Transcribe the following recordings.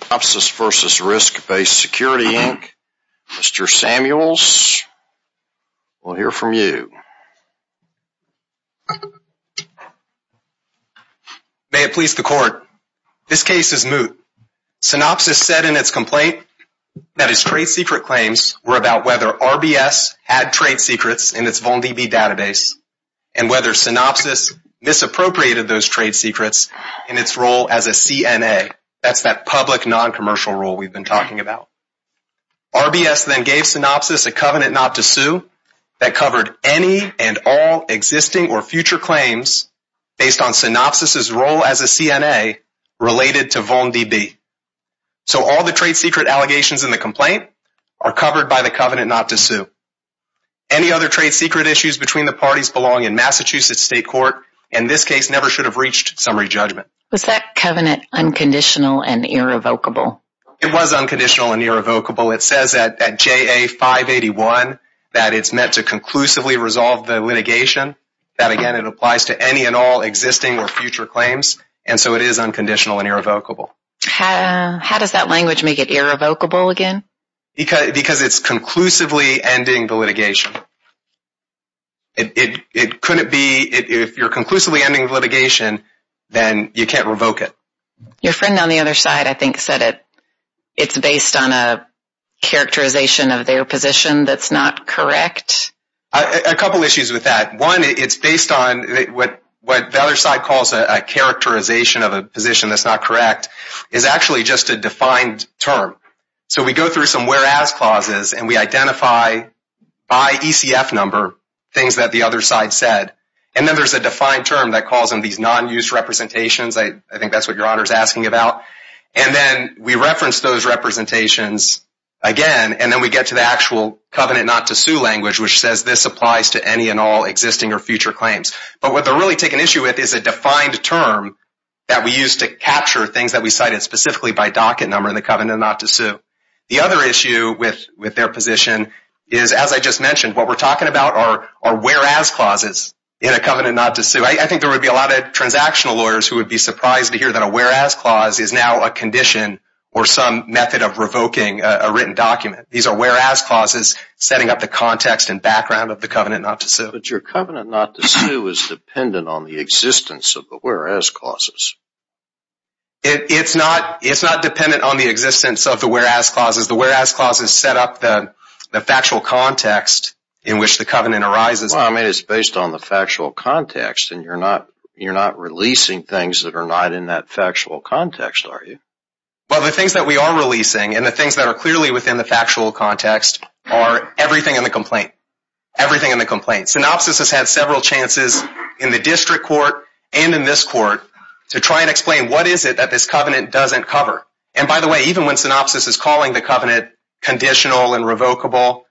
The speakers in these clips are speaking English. Synopsys v. Risk Based Security, Inc. Mr. Samuels, we'll hear from you. May it please the court, this case is moot. Synopsys said in its complaint that its trade secret claims were about whether RBS had trade secrets in its VONDB database and whether Synopsys misappropriated those trade secrets in its role as a CNA. That's that public non-commercial rule we've been talking about. RBS then gave Synopsys a covenant not to sue that covered any and all existing or future claims based on Synopsys' role as a CNA related to VONDB. So all the trade secret allegations in the complaint are covered by the covenant not to sue. Any other trade secret issues between the parties belonging in Massachusetts State Court in this case never should have reached summary judgment. Was that covenant unconditional and irrevocable? It was unconditional and irrevocable. It says at JA 581 that it's meant to conclusively resolve the litigation. That again, it applies to any and all existing or future claims and so it is unconditional and irrevocable. How does that language make it irrevocable again? Because it's conclusively ending the litigation. If you're conclusively ending the litigation, then you can't revoke it. Your friend on the other side I think said it's based on a characterization of their position that's not correct. A couple issues with that. One, it's based on what the other side calls a characterization of a position that's not correct is actually just a defined term. So we go through some whereas clauses and we identify by ECF number things that the other side said. And then there's a defined term that calls in these non-use representations. I think that's what your honor is asking about. And then we reference those representations again and then we get to the actual covenant not to sue language which says this applies to any and all existing or future claims. But what they're really taking issue with is a defined term that we use to capture things that we cited specifically by docket number in the covenant not to sue. The other issue with their position is, as I just mentioned, what we're talking about are whereas clauses in a covenant not to sue. I think there would be a lot of transactional lawyers who would be surprised to hear that a whereas clause is now a condition or some method of revoking a written document. These are whereas clauses setting up the context and background of the covenant not to sue. But your covenant not to sue is dependent on the existence of the whereas clauses. It's not dependent on the existence of the whereas clauses. The whereas clauses set up the factual context in which the covenant arises. Well, I mean, it's based on the factual context and you're not releasing things that are not in that factual context, are you? Well, the things that we are releasing and the things that are clearly within the factual context are everything in the complaint, everything in the complaint. Synopsis has had several chances in the district court and in this court to try and explain what is it that this covenant doesn't cover. And by the way, even when Synopsis is calling the covenant conditional and revocable,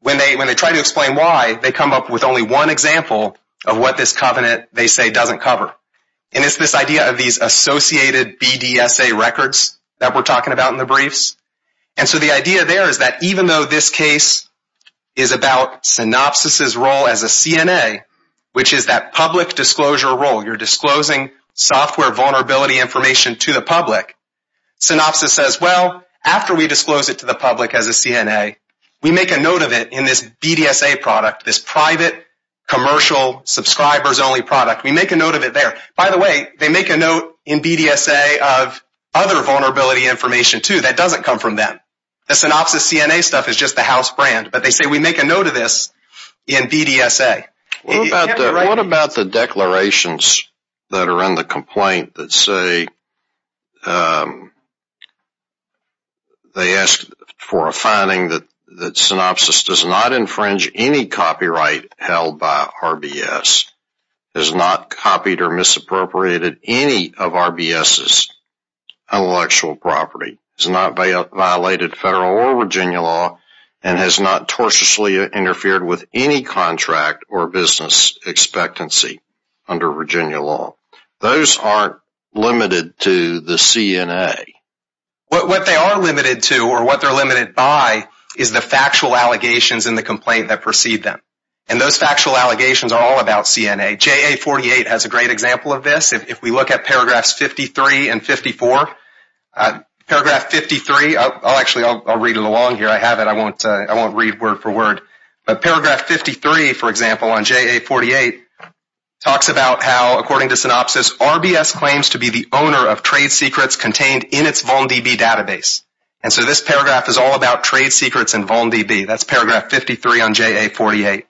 when they try to explain why, they come up with only one example of what this covenant they say doesn't cover. And it's this idea of these associated BDSA records that we're talking about in the briefs. And so the idea there is that even though this case is about Synopsis' role as a CNA, which is that public disclosure role, you're disclosing software vulnerability information to the public, Synopsis says, well, after we disclose it to the public as a CNA, we make a note of it in this BDSA product, this private, commercial, subscribers-only product. We make a note of it there. By the way, they make a note in BDSA of other vulnerability information, too. That doesn't come from them. The Synopsis CNA stuff is just the house brand, but they say we make a note of this in BDSA. What about the declarations that are in the complaint that say they ask for a finding that Synopsis does not infringe any copyright held by RBS, has not copied or misappropriated any of RBS's intellectual property, has not violated federal or Virginia law, and has not tortiously interfered with any contract or business expectancy under Virginia law? Those aren't limited to the CNA. What they are limited to or what they're limited by is the factual allegations in the complaint that precede them. And those factual allegations are all about CNA. JA 48 has a great example of this. If we look at paragraphs 53 and 54, paragraph 53 – actually, I'll read it along here. I have it. I won't read word for word. But paragraph 53, for example, on JA 48 talks about how, according to Synopsis, RBS claims to be the owner of trade secrets contained in its VolnDB database. And so this paragraph is all about trade secrets and VolnDB. That's paragraph 53 on JA 48.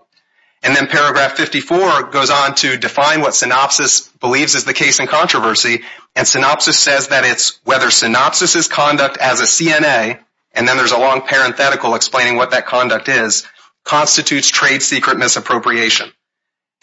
And then paragraph 54 goes on to define what Synopsis believes is the case in controversy. And Synopsis says that it's whether Synopsis's conduct as a CNA – and then there's a long parenthetical explaining what that conduct is – constitutes trade secret misappropriation.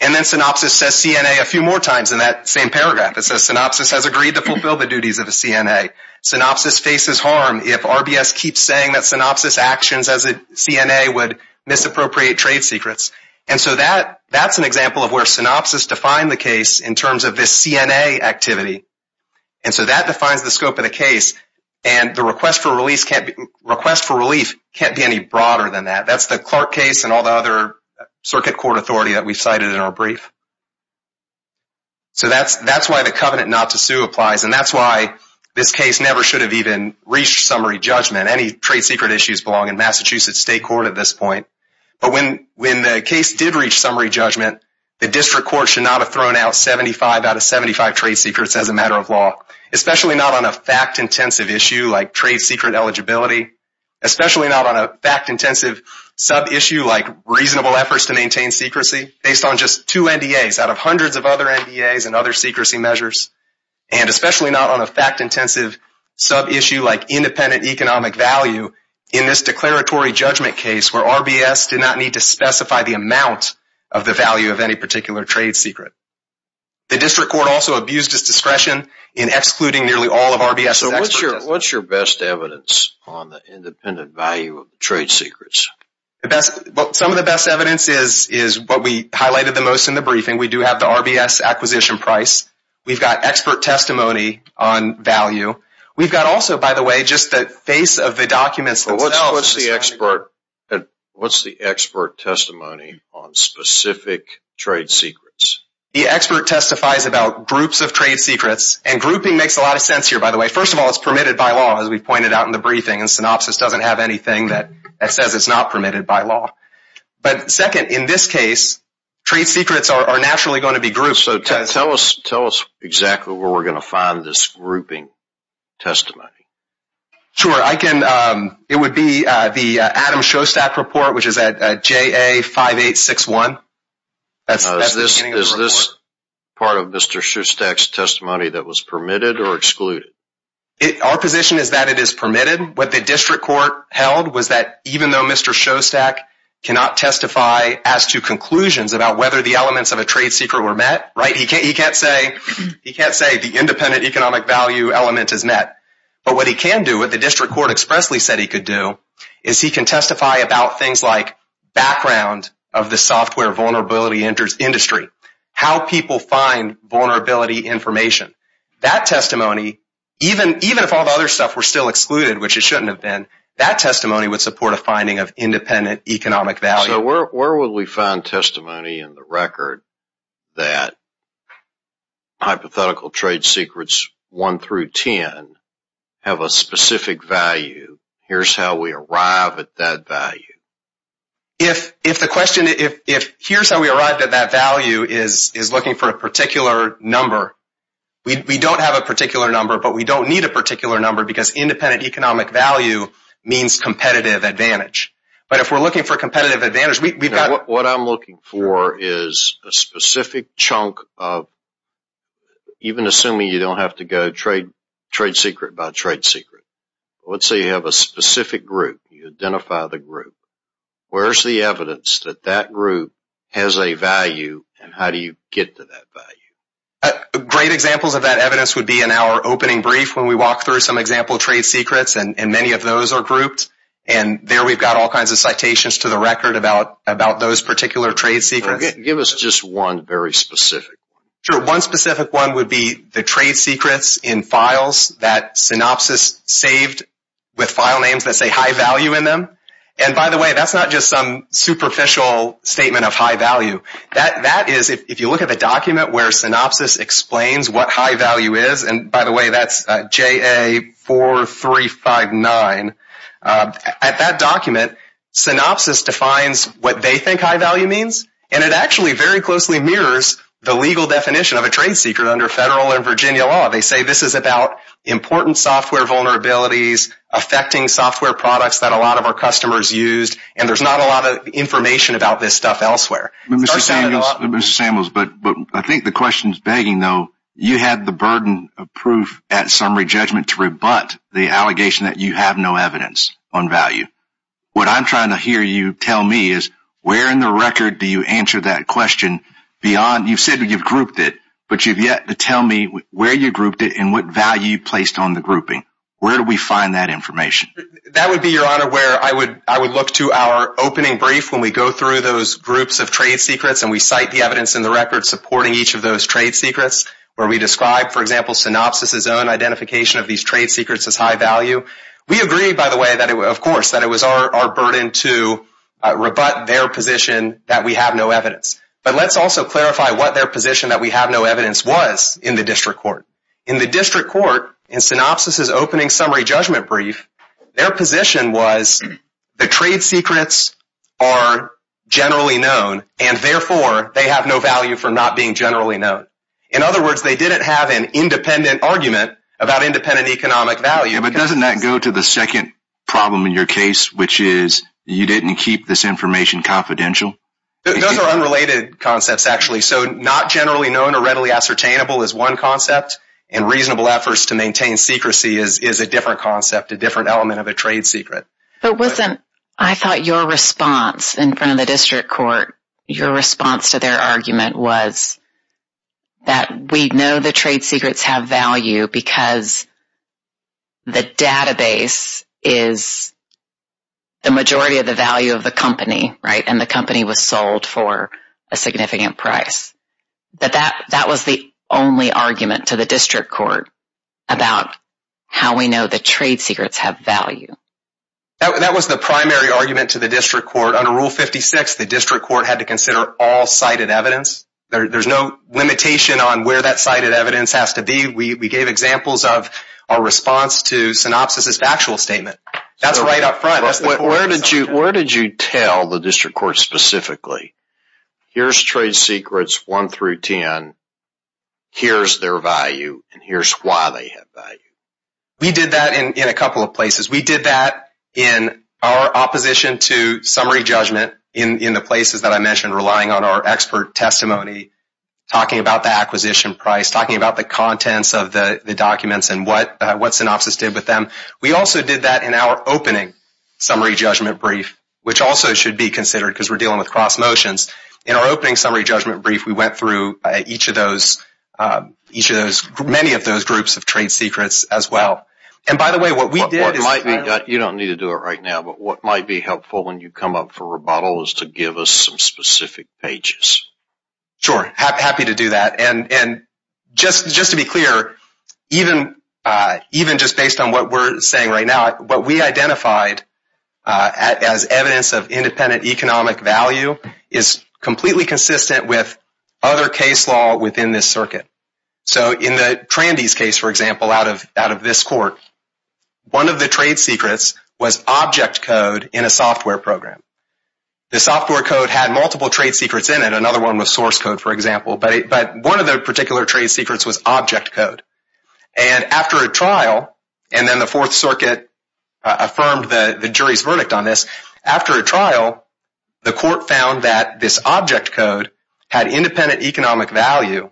And then Synopsis says CNA a few more times in that same paragraph. It says Synopsis has agreed to fulfill the duties of a CNA. Synopsis faces harm if RBS keeps saying that Synopsis's actions as a CNA would misappropriate trade secrets. And so that's an example of where Synopsis defined the case in terms of this CNA activity. And so that defines the scope of the case. And the request for relief can't be any broader than that. That's the Clark case and all the other circuit court authority that we cited in our brief. So that's why the covenant not to sue applies. And that's why this case never should have even reached summary judgment. Any trade secret issues belong in Massachusetts State Court at this point. But when the case did reach summary judgment, the district court should not have thrown out 75 out of 75 trade secrets as a matter of law. Especially not on a fact-intensive issue like trade secret eligibility. Especially not on a fact-intensive sub-issue like reasonable efforts to maintain secrecy. Based on just two NDAs out of hundreds of other NDAs and other secrecy measures. And especially not on a fact-intensive sub-issue like independent economic value. In this declaratory judgment case where RBS did not need to specify the amount of the value of any particular trade secret. The district court also abused its discretion in excluding nearly all of RBS's experts. So what's your best evidence on the independent value of trade secrets? Some of the best evidence is what we highlighted the most in the briefing. We do have the RBS acquisition price. We've got expert testimony on value. We've got also, by the way, just the face of the documents themselves. What's the expert testimony on specific trade secrets? The expert testifies about groups of trade secrets. And grouping makes a lot of sense here, by the way. First of all, it's permitted by law as we pointed out in the briefing. And synopsis doesn't have anything that says it's not permitted by law. But second, in this case, trade secrets are naturally going to be grouped. So tell us exactly where we're going to find this grouping testimony. Sure. It would be the Adam Shostak report, which is at JA5861. Is this part of Mr. Shostak's testimony that was permitted or excluded? Our position is that it is permitted. What the district court held was that even though Mr. Shostak cannot testify as to conclusions about whether the elements of a trade secret were met, right, he can't say the independent economic value element is met. But what he can do, what the district court expressly said he could do, is he can testify about things like background of the software vulnerability industry, how people find vulnerability information. That testimony, even if all the other stuff were still excluded, which it shouldn't have been, that testimony would support a finding of independent economic value. So where would we find testimony in the record that hypothetical trade secrets 1 through 10 have a specific value, here's how we arrive at that value? If the question, if here's how we arrived at that value is looking for a particular number, we don't have a particular number, but we don't need a particular number because independent economic value means competitive advantage. But if we're looking for competitive advantage, we've got... What I'm looking for is a specific chunk of, even assuming you don't have to go trade secret by trade secret, let's say you have a specific group, you identify the group, where's the evidence that that group has a value and how do you get to that value? Great examples of that evidence would be in our opening brief when we walk through some example trade secrets and many of those are grouped. And there we've got all kinds of citations to the record about those particular trade secrets. Give us just one very specific one. Sure, one specific one would be the trade secrets in files that Synopsys saved with file names that say high value in them. And by the way, that's not just some superficial statement of high value. That is, if you look at the document where Synopsys explains what high value is, and by the way, that's JA4359, at that document, Synopsys defines what they think high value means and it actually very closely mirrors the legal definition of a trade secret under federal and Virginia law. They say this is about important software vulnerabilities affecting software products that a lot of our customers use and there's not a lot of information about this stuff elsewhere. Mr. Samuels, I think the question is begging though, you had the burden of proof at summary judgment to rebut the allegation that you have no evidence on value. What I'm trying to hear you tell me is where in the record do you answer that question? You've said you've grouped it, but you've yet to tell me where you grouped it and what value you placed on the grouping. Where do we find that information? That would be, Your Honor, where I would look to our opening brief when we go through those groups of trade secrets and we cite the evidence in the record supporting each of those trade secrets where we describe, for example, Synopsys' own identification of these trade secrets as high value. We agree, by the way, of course, that it was our burden to rebut their position that we have no evidence. But let's also clarify what their position that we have no evidence was in the district court. In the district court, in Synopsys' opening summary judgment brief, their position was the trade secrets are generally known and therefore they have no value for not being generally known. In other words, they didn't have an independent argument about independent economic value. Yeah, but doesn't that go to the second problem in your case, which is you didn't keep this information confidential? Those are unrelated concepts, actually. So not generally known or readily ascertainable is one concept, and reasonable efforts to maintain secrecy is a different concept, a different element of a trade secret. But wasn't – I thought your response in front of the district court, your response to their argument was that we know the trade secrets have value because the database is the majority of the value of the company, right? And the company was sold for a significant price. But that was the only argument to the district court about how we know the trade secrets have value. That was the primary argument to the district court. Under Rule 56, the district court had to consider all cited evidence. There's no limitation on where that cited evidence has to be. We gave examples of our response to Synopsys' factual statement. That's right up front. Where did you tell the district court specifically, here's trade secrets 1 through 10, here's their value, and here's why they have value? We did that in a couple of places. We did that in our opposition to summary judgment in the places that I mentioned, relying on our expert testimony, talking about the acquisition price, talking about the contents of the documents and what Synopsys did with them. We also did that in our opening summary judgment brief, which also should be considered because we're dealing with cross motions. In our opening summary judgment brief, we went through each of those – many of those groups of trade secrets as well. You don't need to do it right now, but what might be helpful when you come up for rebuttal is to give us some specific pages. Sure, happy to do that. Just to be clear, even just based on what we're saying right now, what we identified as evidence of independent economic value is completely consistent with other case law within this circuit. In the Trandy's case, for example, out of this court, one of the trade secrets was object code in a software program. The software code had multiple trade secrets in it. Another one was source code, for example, but one of the particular trade secrets was object code. After a trial, and then the Fourth Circuit affirmed the jury's verdict on this, the court found that this object code had independent economic value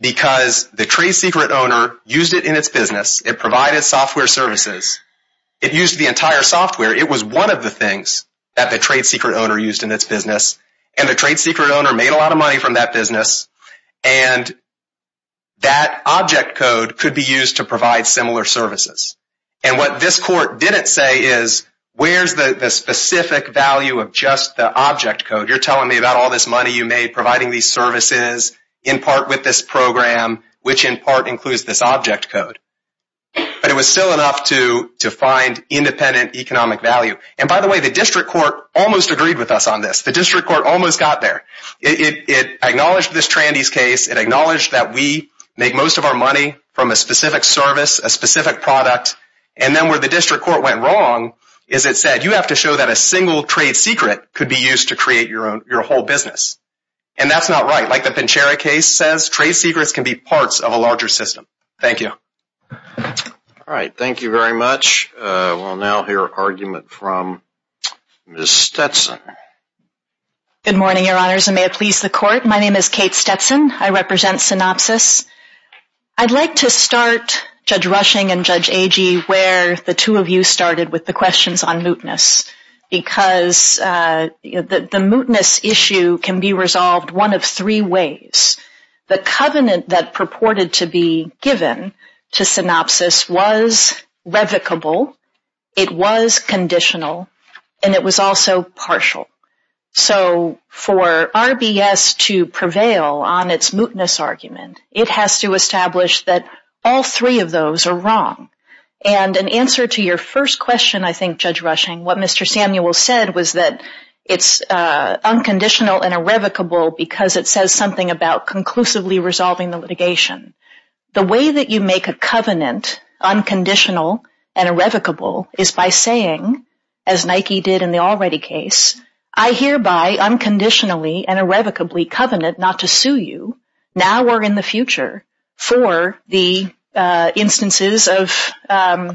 because the trade secret owner used it in its business. It provided software services. It used the entire software. It was one of the things that the trade secret owner used in its business, and the trade secret owner made a lot of money from that business, and that object code could be used to provide similar services. What this court didn't say is, where's the specific value of just the object code? You're telling me about all this money you made providing these services in part with this program, which in part includes this object code, but it was still enough to find independent economic value. By the way, the district court almost agreed with us on this. The district court almost got there. It acknowledged this Trandy's case. It acknowledged that we make most of our money from a specific service, a specific product, and then where the district court went wrong is it said, you have to show that a single trade secret could be used to create your whole business, and that's not right. Like the Pincherra case says, trade secrets can be parts of a larger system. Thank you. All right. Thank you very much. We'll now hear an argument from Ms. Stetson. Good morning, Your Honors, and may it please the court. My name is Kate Stetson. I represent Synopsys. I'd like to start, Judge Rushing and Judge Agee, where the two of you started with the questions on mootness, because the mootness issue can be resolved one of three ways. The covenant that purported to be given to Synopsys was revocable, it was conditional, and it was also partial. So for RBS to prevail on its mootness argument, it has to establish that all three of those are wrong. And in answer to your first question, I think, Judge Rushing, what Mr. Samuel said was that it's unconditional and irrevocable because it says something about conclusively resolving the litigation. The way that you make a covenant unconditional and irrevocable is by saying, as Nike did in the already case, I hereby unconditionally and irrevocably covenant not to sue you, now or in the future, for the instances of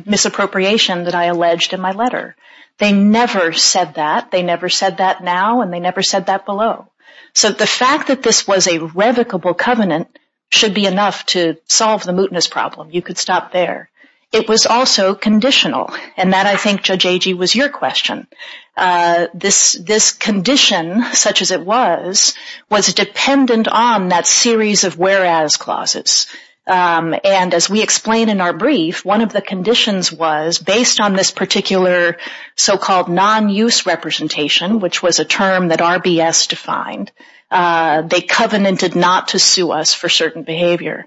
misappropriation that I alleged in my letter. They never said that. They never said that now, and they never said that below. So the fact that this was a revocable covenant should be enough to solve the mootness problem. You could stop there. It was also conditional, and that, I think, Judge Agee, was your question. This condition, such as it was, was dependent on that series of whereas clauses. And as we explain in our brief, one of the conditions was, based on this particular so-called non-use representation, which was a term that RBS defined, they covenanted not to sue us for certain behavior.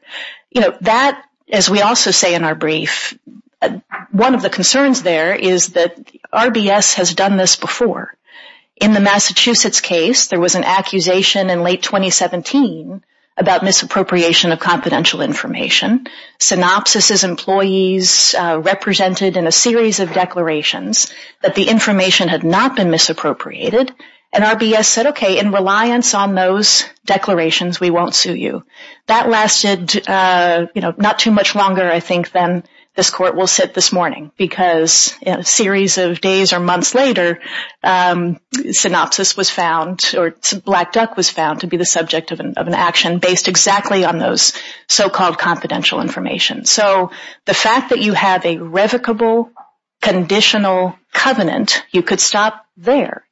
That, as we also say in our brief, one of the concerns there is that RBS has done this before. In the Massachusetts case, there was an accusation in late 2017 about misappropriation of confidential information. Synopsis's employees represented in a series of declarations that the information had not been misappropriated, and RBS said, okay, in reliance on those declarations, we won't sue you. That lasted, you know, not too much longer, I think, than this Court will sit this morning, because a series of days or months later, synopsis was found, or Black Duck was found, to be the subject of an action based exactly on those so-called confidential information. So the fact that you have a revocable conditional covenant, you could stop there.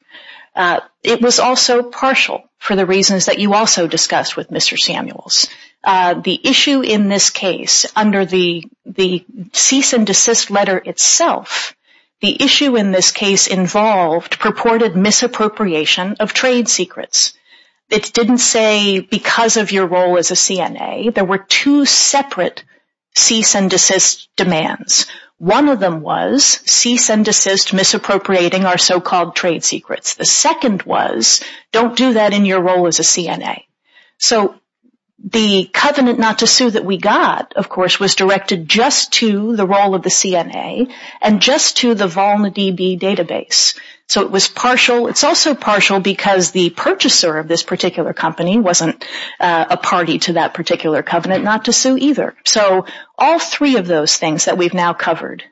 It was also partial for the reasons that you also discussed with Mr. Samuels. The issue in this case, under the cease and desist letter itself, the issue in this case involved purported misappropriation of trade secrets. It didn't say because of your role as a CNA, there were two separate cease and desist demands. One of them was cease and desist misappropriating our so-called trade secrets. The second was don't do that in your role as a CNA. So the covenant not to sue that we got, of course, was directed just to the role of the CNA and just to the VolnaDB database. So it was partial. It's also partial because the purchaser of this particular company wasn't a party to that particular covenant not to sue either. So all three of those things that we've now covered,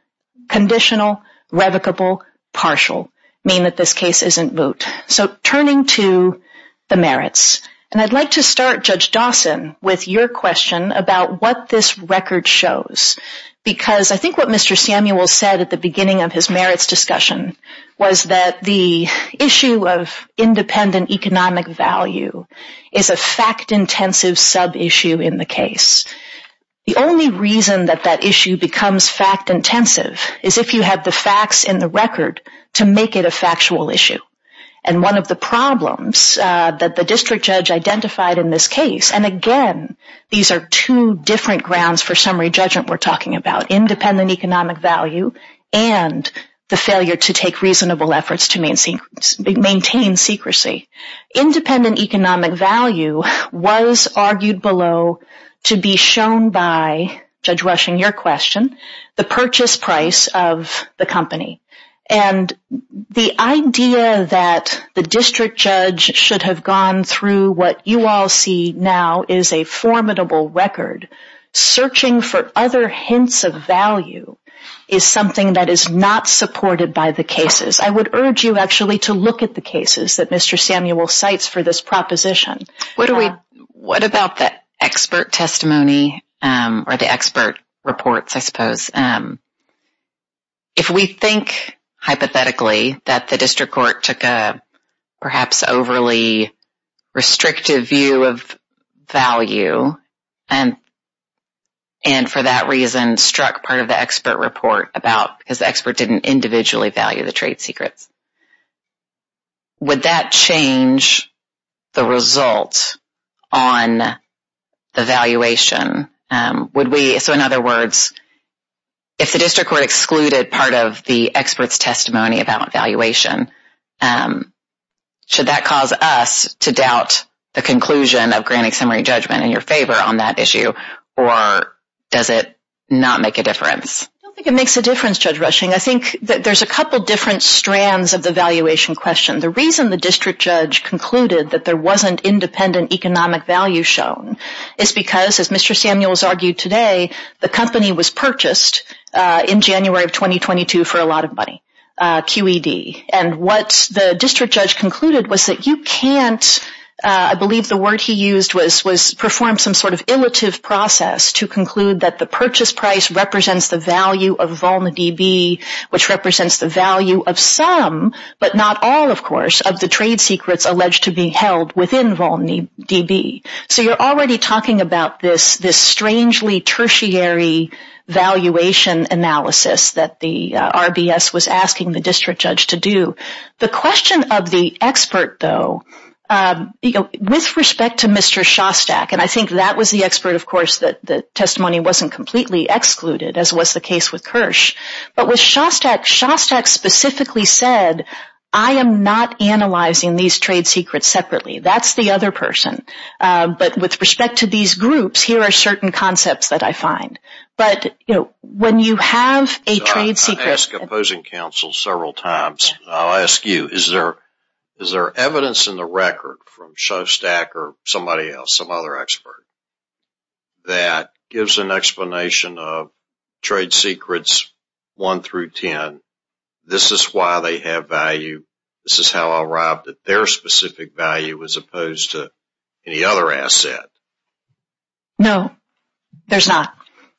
conditional, revocable, partial, mean that this case isn't moot. So turning to the merits, and I'd like to start, Judge Dawson, with your question about what this record shows because I think what Mr. Samuels said at the beginning of his merits discussion was that the issue of independent economic value is a fact-intensive sub-issue in the case. The only reason that that issue becomes fact-intensive is if you have the facts in the record to make it a factual issue. And one of the problems that the district judge identified in this case, and again, these are two different grounds for summary judgment we're talking about, independent economic value and the failure to take reasonable efforts to maintain secrecy. Independent economic value was argued below to be shown by, Judge Rushing, your question, the purchase price of the company. And the idea that the district judge should have gone through what you all see now is a formidable record. Searching for other hints of value is something that is not supported by the cases. I would urge you actually to look at the cases that Mr. Samuels cites for this proposition. What about the expert testimony or the expert reports, I suppose? If we think hypothetically that the district court took a perhaps overly restrictive view of value and for that reason struck part of the expert report because the expert didn't individually value the trade secrets, would that change the result on the valuation? So in other words, if the district court excluded part of the expert's testimony about valuation, should that cause us to doubt the conclusion of granting summary judgment in your favor on that issue, or does it not make a difference? I don't think it makes a difference, Judge Rushing. I think that there's a couple different strands of the valuation question. The reason the district judge concluded that there wasn't independent economic value shown is because, as Mr. Samuels argued today, the company was purchased in January of 2022 for a lot of money, QED. And what the district judge concluded was that you can't, I believe the word he used was perform some sort of illiterative process to conclude that the purchase price represents the value of Volna DB, which represents the value of some, but not all, of course, of the trade secrets alleged to be held within Volna DB. So you're already talking about this strangely tertiary valuation analysis that the RBS was asking the district judge to do. The question of the expert, though, with respect to Mr. Shostak, and I think that was the expert, of course, that the testimony wasn't completely excluded, as was the case with Kirsch. But with Shostak, Shostak specifically said, I am not analyzing these trade secrets separately. That's the other person. But with respect to these groups, here are certain concepts that I find. But, you know, when you have a trade secret... I've asked opposing counsel several times, and I'll ask you, is there evidence in the record from Shostak or somebody else, some other expert, that gives an explanation of trade secrets 1 through 10, this is why they have value, this is how I'll rob their specific value as opposed to any other asset? No, there's not.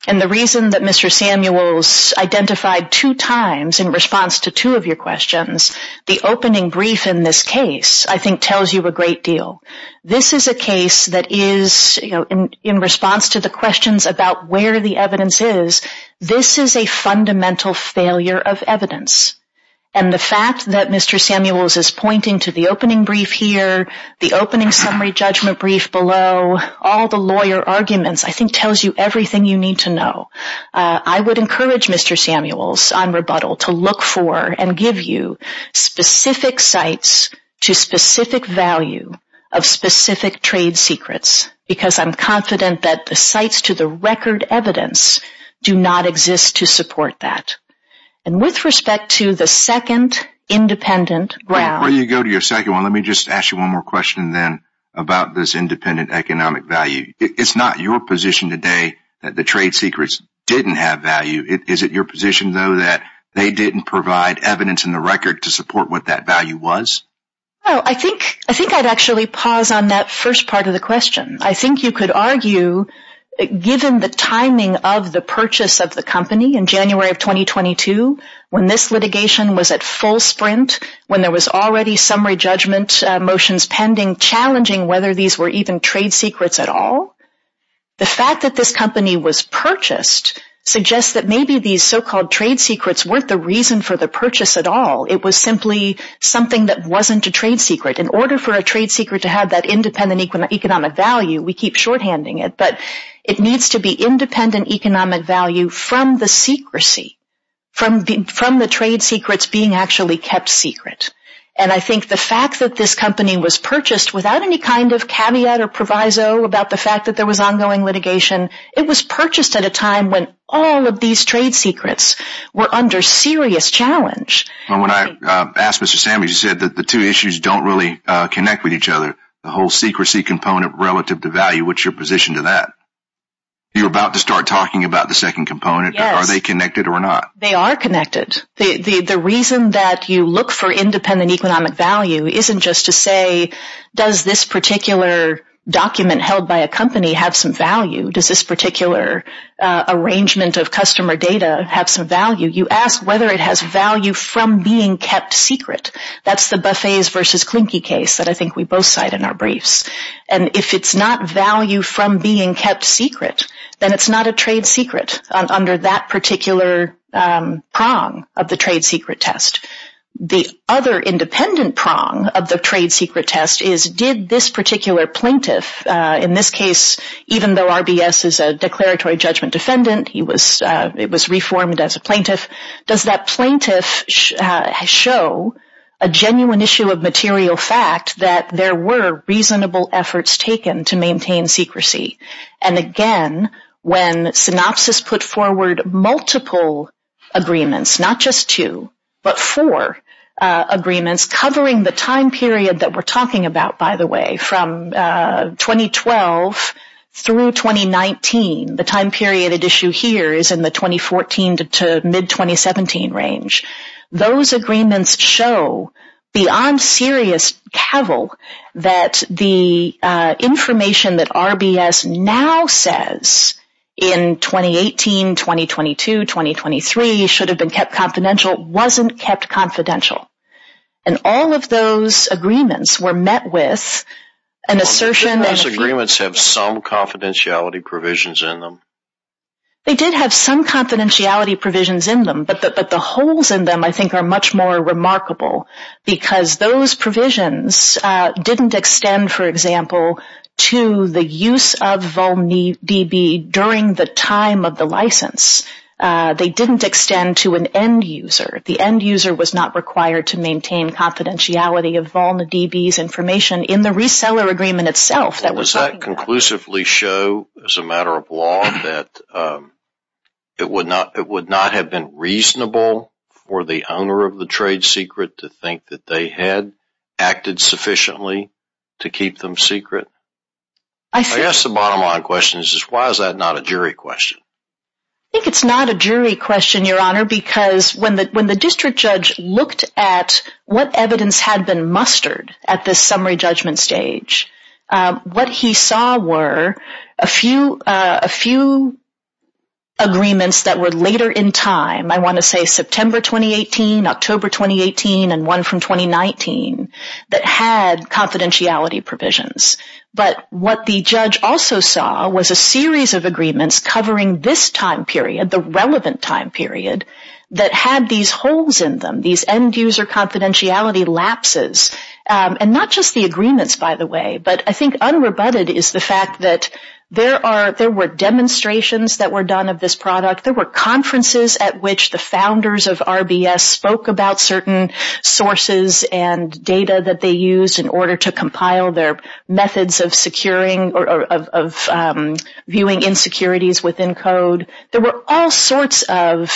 And the reason that Mr. Samuels identified two times in response to two of your questions, the opening brief in this case, I think, tells you a great deal. This is a case that is, you know, in response to the questions about where the evidence is, this is a fundamental failure of evidence. And the fact that Mr. Samuels is pointing to the opening brief here, the opening summary judgment brief below, all the lawyer arguments, I think, tells you everything you need to know. I would encourage Mr. Samuels on rebuttal to look for and give you specific sites to specific value of specific trade secrets, because I'm confident that the sites to the record evidence do not exist to support that. And with respect to the second independent round... Before you go to your second one, let me just ask you one more question then about this independent economic value. It's not your position today that the trade secrets didn't have value. Is it your position, though, that they didn't provide evidence in the record to support what that value was? I think I'd actually pause on that first part of the question. I think you could argue, given the timing of the purchase of the company in January of 2022, when this litigation was at full sprint, when there was already summary judgment motions pending, and challenging whether these were even trade secrets at all, the fact that this company was purchased suggests that maybe these so-called trade secrets weren't the reason for the purchase at all. It was simply something that wasn't a trade secret. In order for a trade secret to have that independent economic value, we keep shorthanding it, but it needs to be independent economic value from the trade secrets being actually kept secret. I think the fact that this company was purchased without any kind of caveat or proviso about the fact that there was ongoing litigation, it was purchased at a time when all of these trade secrets were under serious challenge. When I asked Mr. Sandwich, he said that the two issues don't really connect with each other. The whole secrecy component relative to value, what's your position to that? You're about to start talking about the second component. Are they connected or not? They are connected. The reason that you look for independent economic value isn't just to say, does this particular document held by a company have some value? Does this particular arrangement of customer data have some value? You ask whether it has value from being kept secret. That's the Buffet's versus Klinky case that I think we both cite in our briefs. If it's not value from being kept secret, then it's not a trade secret under that particular prong of the trade secret test. The other independent prong of the trade secret test is, did this particular plaintiff, in this case, even though RBS is a declaratory judgment defendant, it was reformed as a plaintiff, does that plaintiff show a genuine issue of material fact that there were reasonable efforts taken to maintain secrecy? Again, when Synopsys put forward multiple agreements, not just two, but four agreements, covering the time period that we're talking about, by the way, from 2012 through 2019, the time period at issue here is in the 2014 to mid-2017 range. Those agreements show, beyond serious cavil, that the information that RBS now says, in 2018, 2022, 2023, should have been kept confidential, wasn't kept confidential. And all of those agreements were met with an assertion that... They did have some confidentiality provisions in them, but the holes in them, I think, are much more remarkable, because those provisions didn't extend, for example, to the use of VolneDB during the time of the license. They didn't extend to an end user. The end user was not required to maintain confidentiality of VolneDB's information in the reseller agreement itself. Does that conclusively show, as a matter of law, that it would not have been reasonable for the owner of the trade secret to think that they had acted sufficiently to keep them secret? I guess the bottom line question is, why is that not a jury question? I think it's not a jury question, Your Honor, because when the district judge looked at what evidence had been mustered at this summary judgment stage, what he saw were a few agreements that were later in time, I want to say September 2018, October 2018, and one from 2019, that had confidentiality provisions. But what the judge also saw was a series of agreements covering this time period, the relevant time period, that had these holes in them, these end user confidentiality lapses. And not just the agreements, by the way. But I think unrebutted is the fact that there were demonstrations that were done of this product. There were conferences at which the founders of RBS spoke about certain sources and data that they used in order to compile their methods of securing or of viewing insecurities within code. There were all sorts of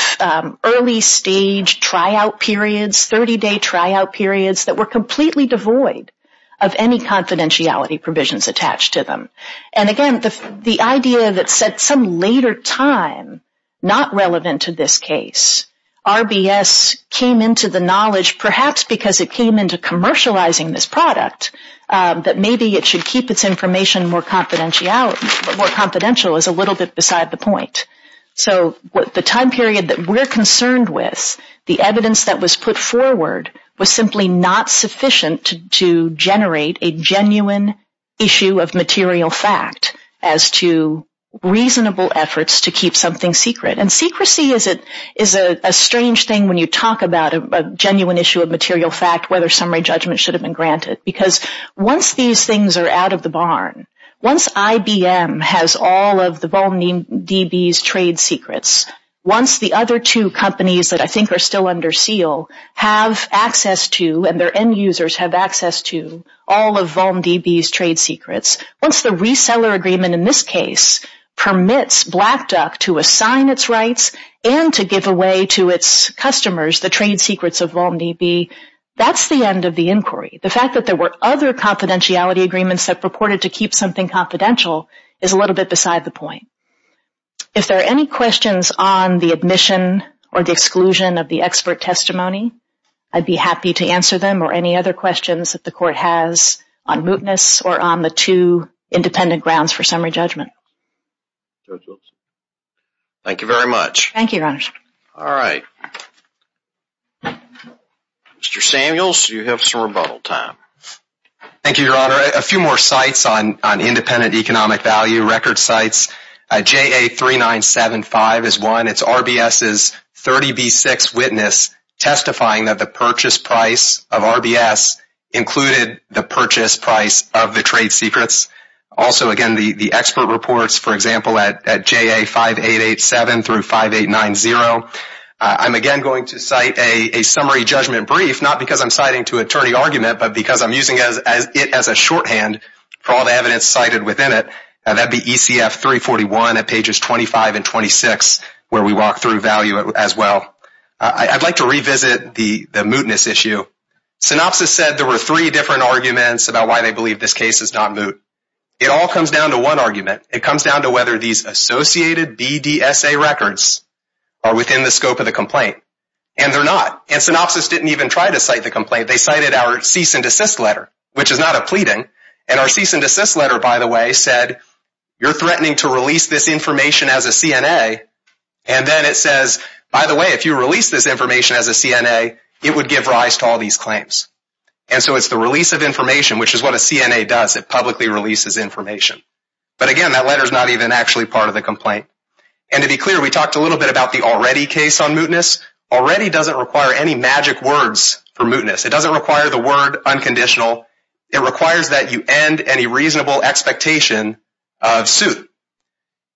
early stage tryout periods, 30-day tryout periods, that were completely devoid of any confidentiality provisions attached to them. And again, the idea that said some later time, not relevant to this case, RBS came into the knowledge, perhaps because it came into commercializing this product, that maybe it should keep its information more confidential, is a little bit beside the point. So the time period that we're concerned with, the evidence that was put forward, was simply not sufficient to generate a genuine issue of material fact as to reasonable efforts to keep something secret. And secrecy is a strange thing when you talk about a genuine issue of material fact, whether summary judgment should have been granted. Because once these things are out of the barn, once IBM has all of the VolmDB's trade secrets, once the other two companies that I think are still under seal have access to, and their end users have access to, all of VolmDB's trade secrets, once the reseller agreement in this case permits Black Duck to assign its rights and to give away to its customers the trade secrets of VolmDB, that's the end of the inquiry. The fact that there were other confidentiality agreements that purported to keep something confidential is a little bit beside the point. If there are any questions on the admission or the exclusion of the expert testimony, I'd be happy to answer them or any other questions that the Court has on mootness or on the two independent grounds for summary judgment. Thank you very much. Thank you, Your Honor. All right. Mr. Samuels, you have some rebuttal time. Thank you, Your Honor. A few more sites on independent economic value record sites. JA3975 is one. It's RBS's 30B6 witness testifying that the purchase price of RBS included the purchase price of the trade secrets. Also, again, the expert reports, for example, at JA5887-5890. I'm, again, going to cite a summary judgment brief, not because I'm citing to attorney argument, but because I'm using it as a shorthand for all the evidence cited within it. That'd be ECF 341 at pages 25 and 26, where we walk through value as well. I'd like to revisit the mootness issue. Synopsis said there were three different arguments about why they believe this case is not moot. It all comes down to one argument. It comes down to whether these associated BDSA records are within the scope of the complaint. And they're not. And Synopsis didn't even try to cite the complaint. They cited our cease and desist letter, which is not a pleading. And our cease and desist letter, by the way, said you're threatening to release this information as a CNA. And then it says, by the way, if you release this information as a CNA, it would give rise to all these claims. And so it's the release of information, which is what a CNA does. It publicly releases information. But, again, that letter is not even actually part of the complaint. And to be clear, we talked a little bit about the already case on mootness. Already doesn't require any magic words for mootness. It doesn't require the word unconditional. It requires that you end any reasonable expectation of suit.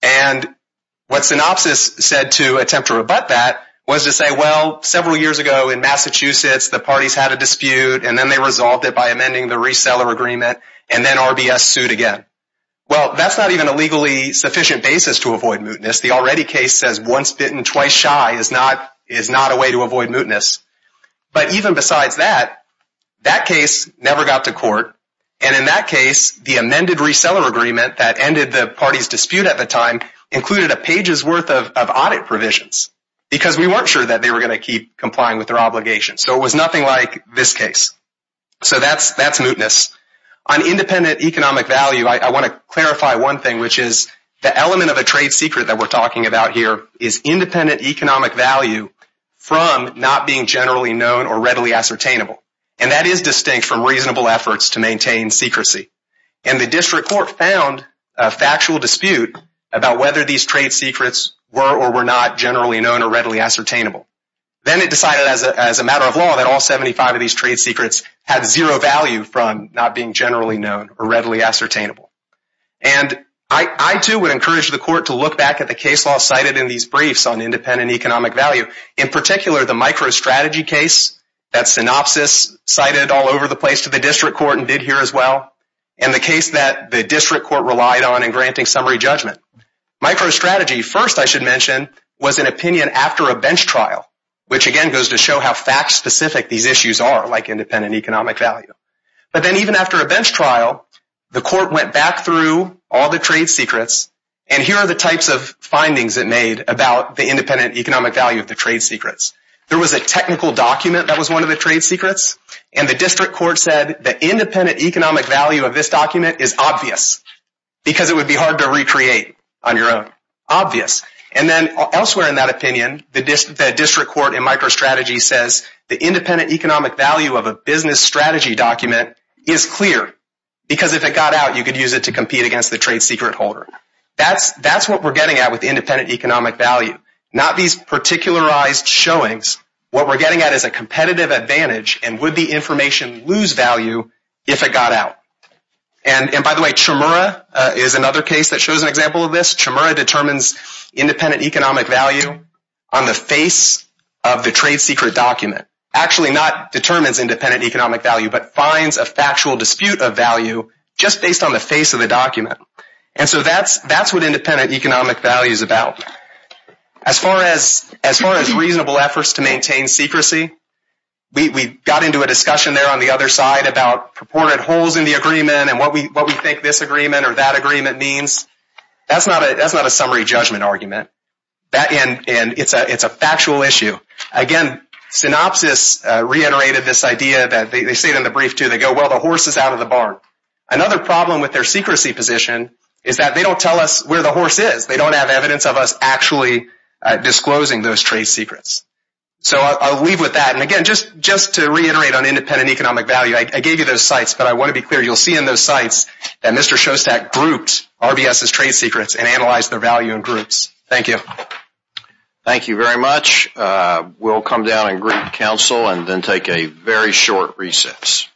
And what Synopsis said to attempt to rebut that was to say, well, several years ago in Massachusetts, the parties had a dispute. And then they resolved it by amending the reseller agreement. And then RBS sued again. Well, that's not even a legally sufficient basis to avoid mootness. The already case says once bitten, twice shy is not a way to avoid mootness. And in that case, the amended reseller agreement that ended the party's dispute at the time included a page's worth of audit provisions because we weren't sure that they were going to keep complying with their obligations. So it was nothing like this case. So that's mootness. On independent economic value, I want to clarify one thing, which is the element of a trade secret that we're talking about here is independent economic value from not being generally known or readily ascertainable. And that is distinct from reasonable efforts to maintain secrecy. And the district court found a factual dispute about whether these trade secrets were or were not generally known or readily ascertainable. Then it decided as a matter of law that all 75 of these trade secrets had zero value from not being generally known or readily ascertainable. And I, too, would encourage the court to look back at the case law cited in these briefs on independent economic value, in particular the microstrategy case, that synopsis cited all over the place to the district court and did here as well, and the case that the district court relied on in granting summary judgment. Microstrategy, first I should mention, was an opinion after a bench trial, which again goes to show how fact-specific these issues are, like independent economic value. But then even after a bench trial, the court went back through all the trade secrets, and here are the types of findings it made about the independent economic value of the trade secrets. There was a technical document that was one of the trade secrets, and the district court said the independent economic value of this document is obvious, because it would be hard to recreate on your own. Obvious. And then elsewhere in that opinion, the district court in microstrategy says the independent economic value of a business strategy document is clear, because if it got out, you could use it to compete against the trade secret holder. That's what we're getting at with independent economic value, not these particularized showings. What we're getting at is a competitive advantage, and would the information lose value if it got out? And by the way, Chemura is another case that shows an example of this. Chemura determines independent economic value on the face of the trade secret document. Actually not determines independent economic value, but finds a factual dispute of value just based on the face of the document. And so that's what independent economic value is about. As far as reasonable efforts to maintain secrecy, we got into a discussion there on the other side about purported holes in the agreement and what we think this agreement or that agreement means. That's not a summary judgment argument, and it's a factual issue. Again, Synopsys reiterated this idea. They say it in the brief, too. They go, well, the horse is out of the barn. Another problem with their secrecy position is that they don't tell us where the horse is. They don't have evidence of us actually disclosing those trade secrets. So I'll leave with that. And again, just to reiterate on independent economic value, I gave you those sites, but I want to be clear. You'll see in those sites that Mr. Shostak grouped RBS's trade secrets and analyzed their value in groups. Thank you. Thank you very much. We'll come down and greet counsel and then take a very short recess.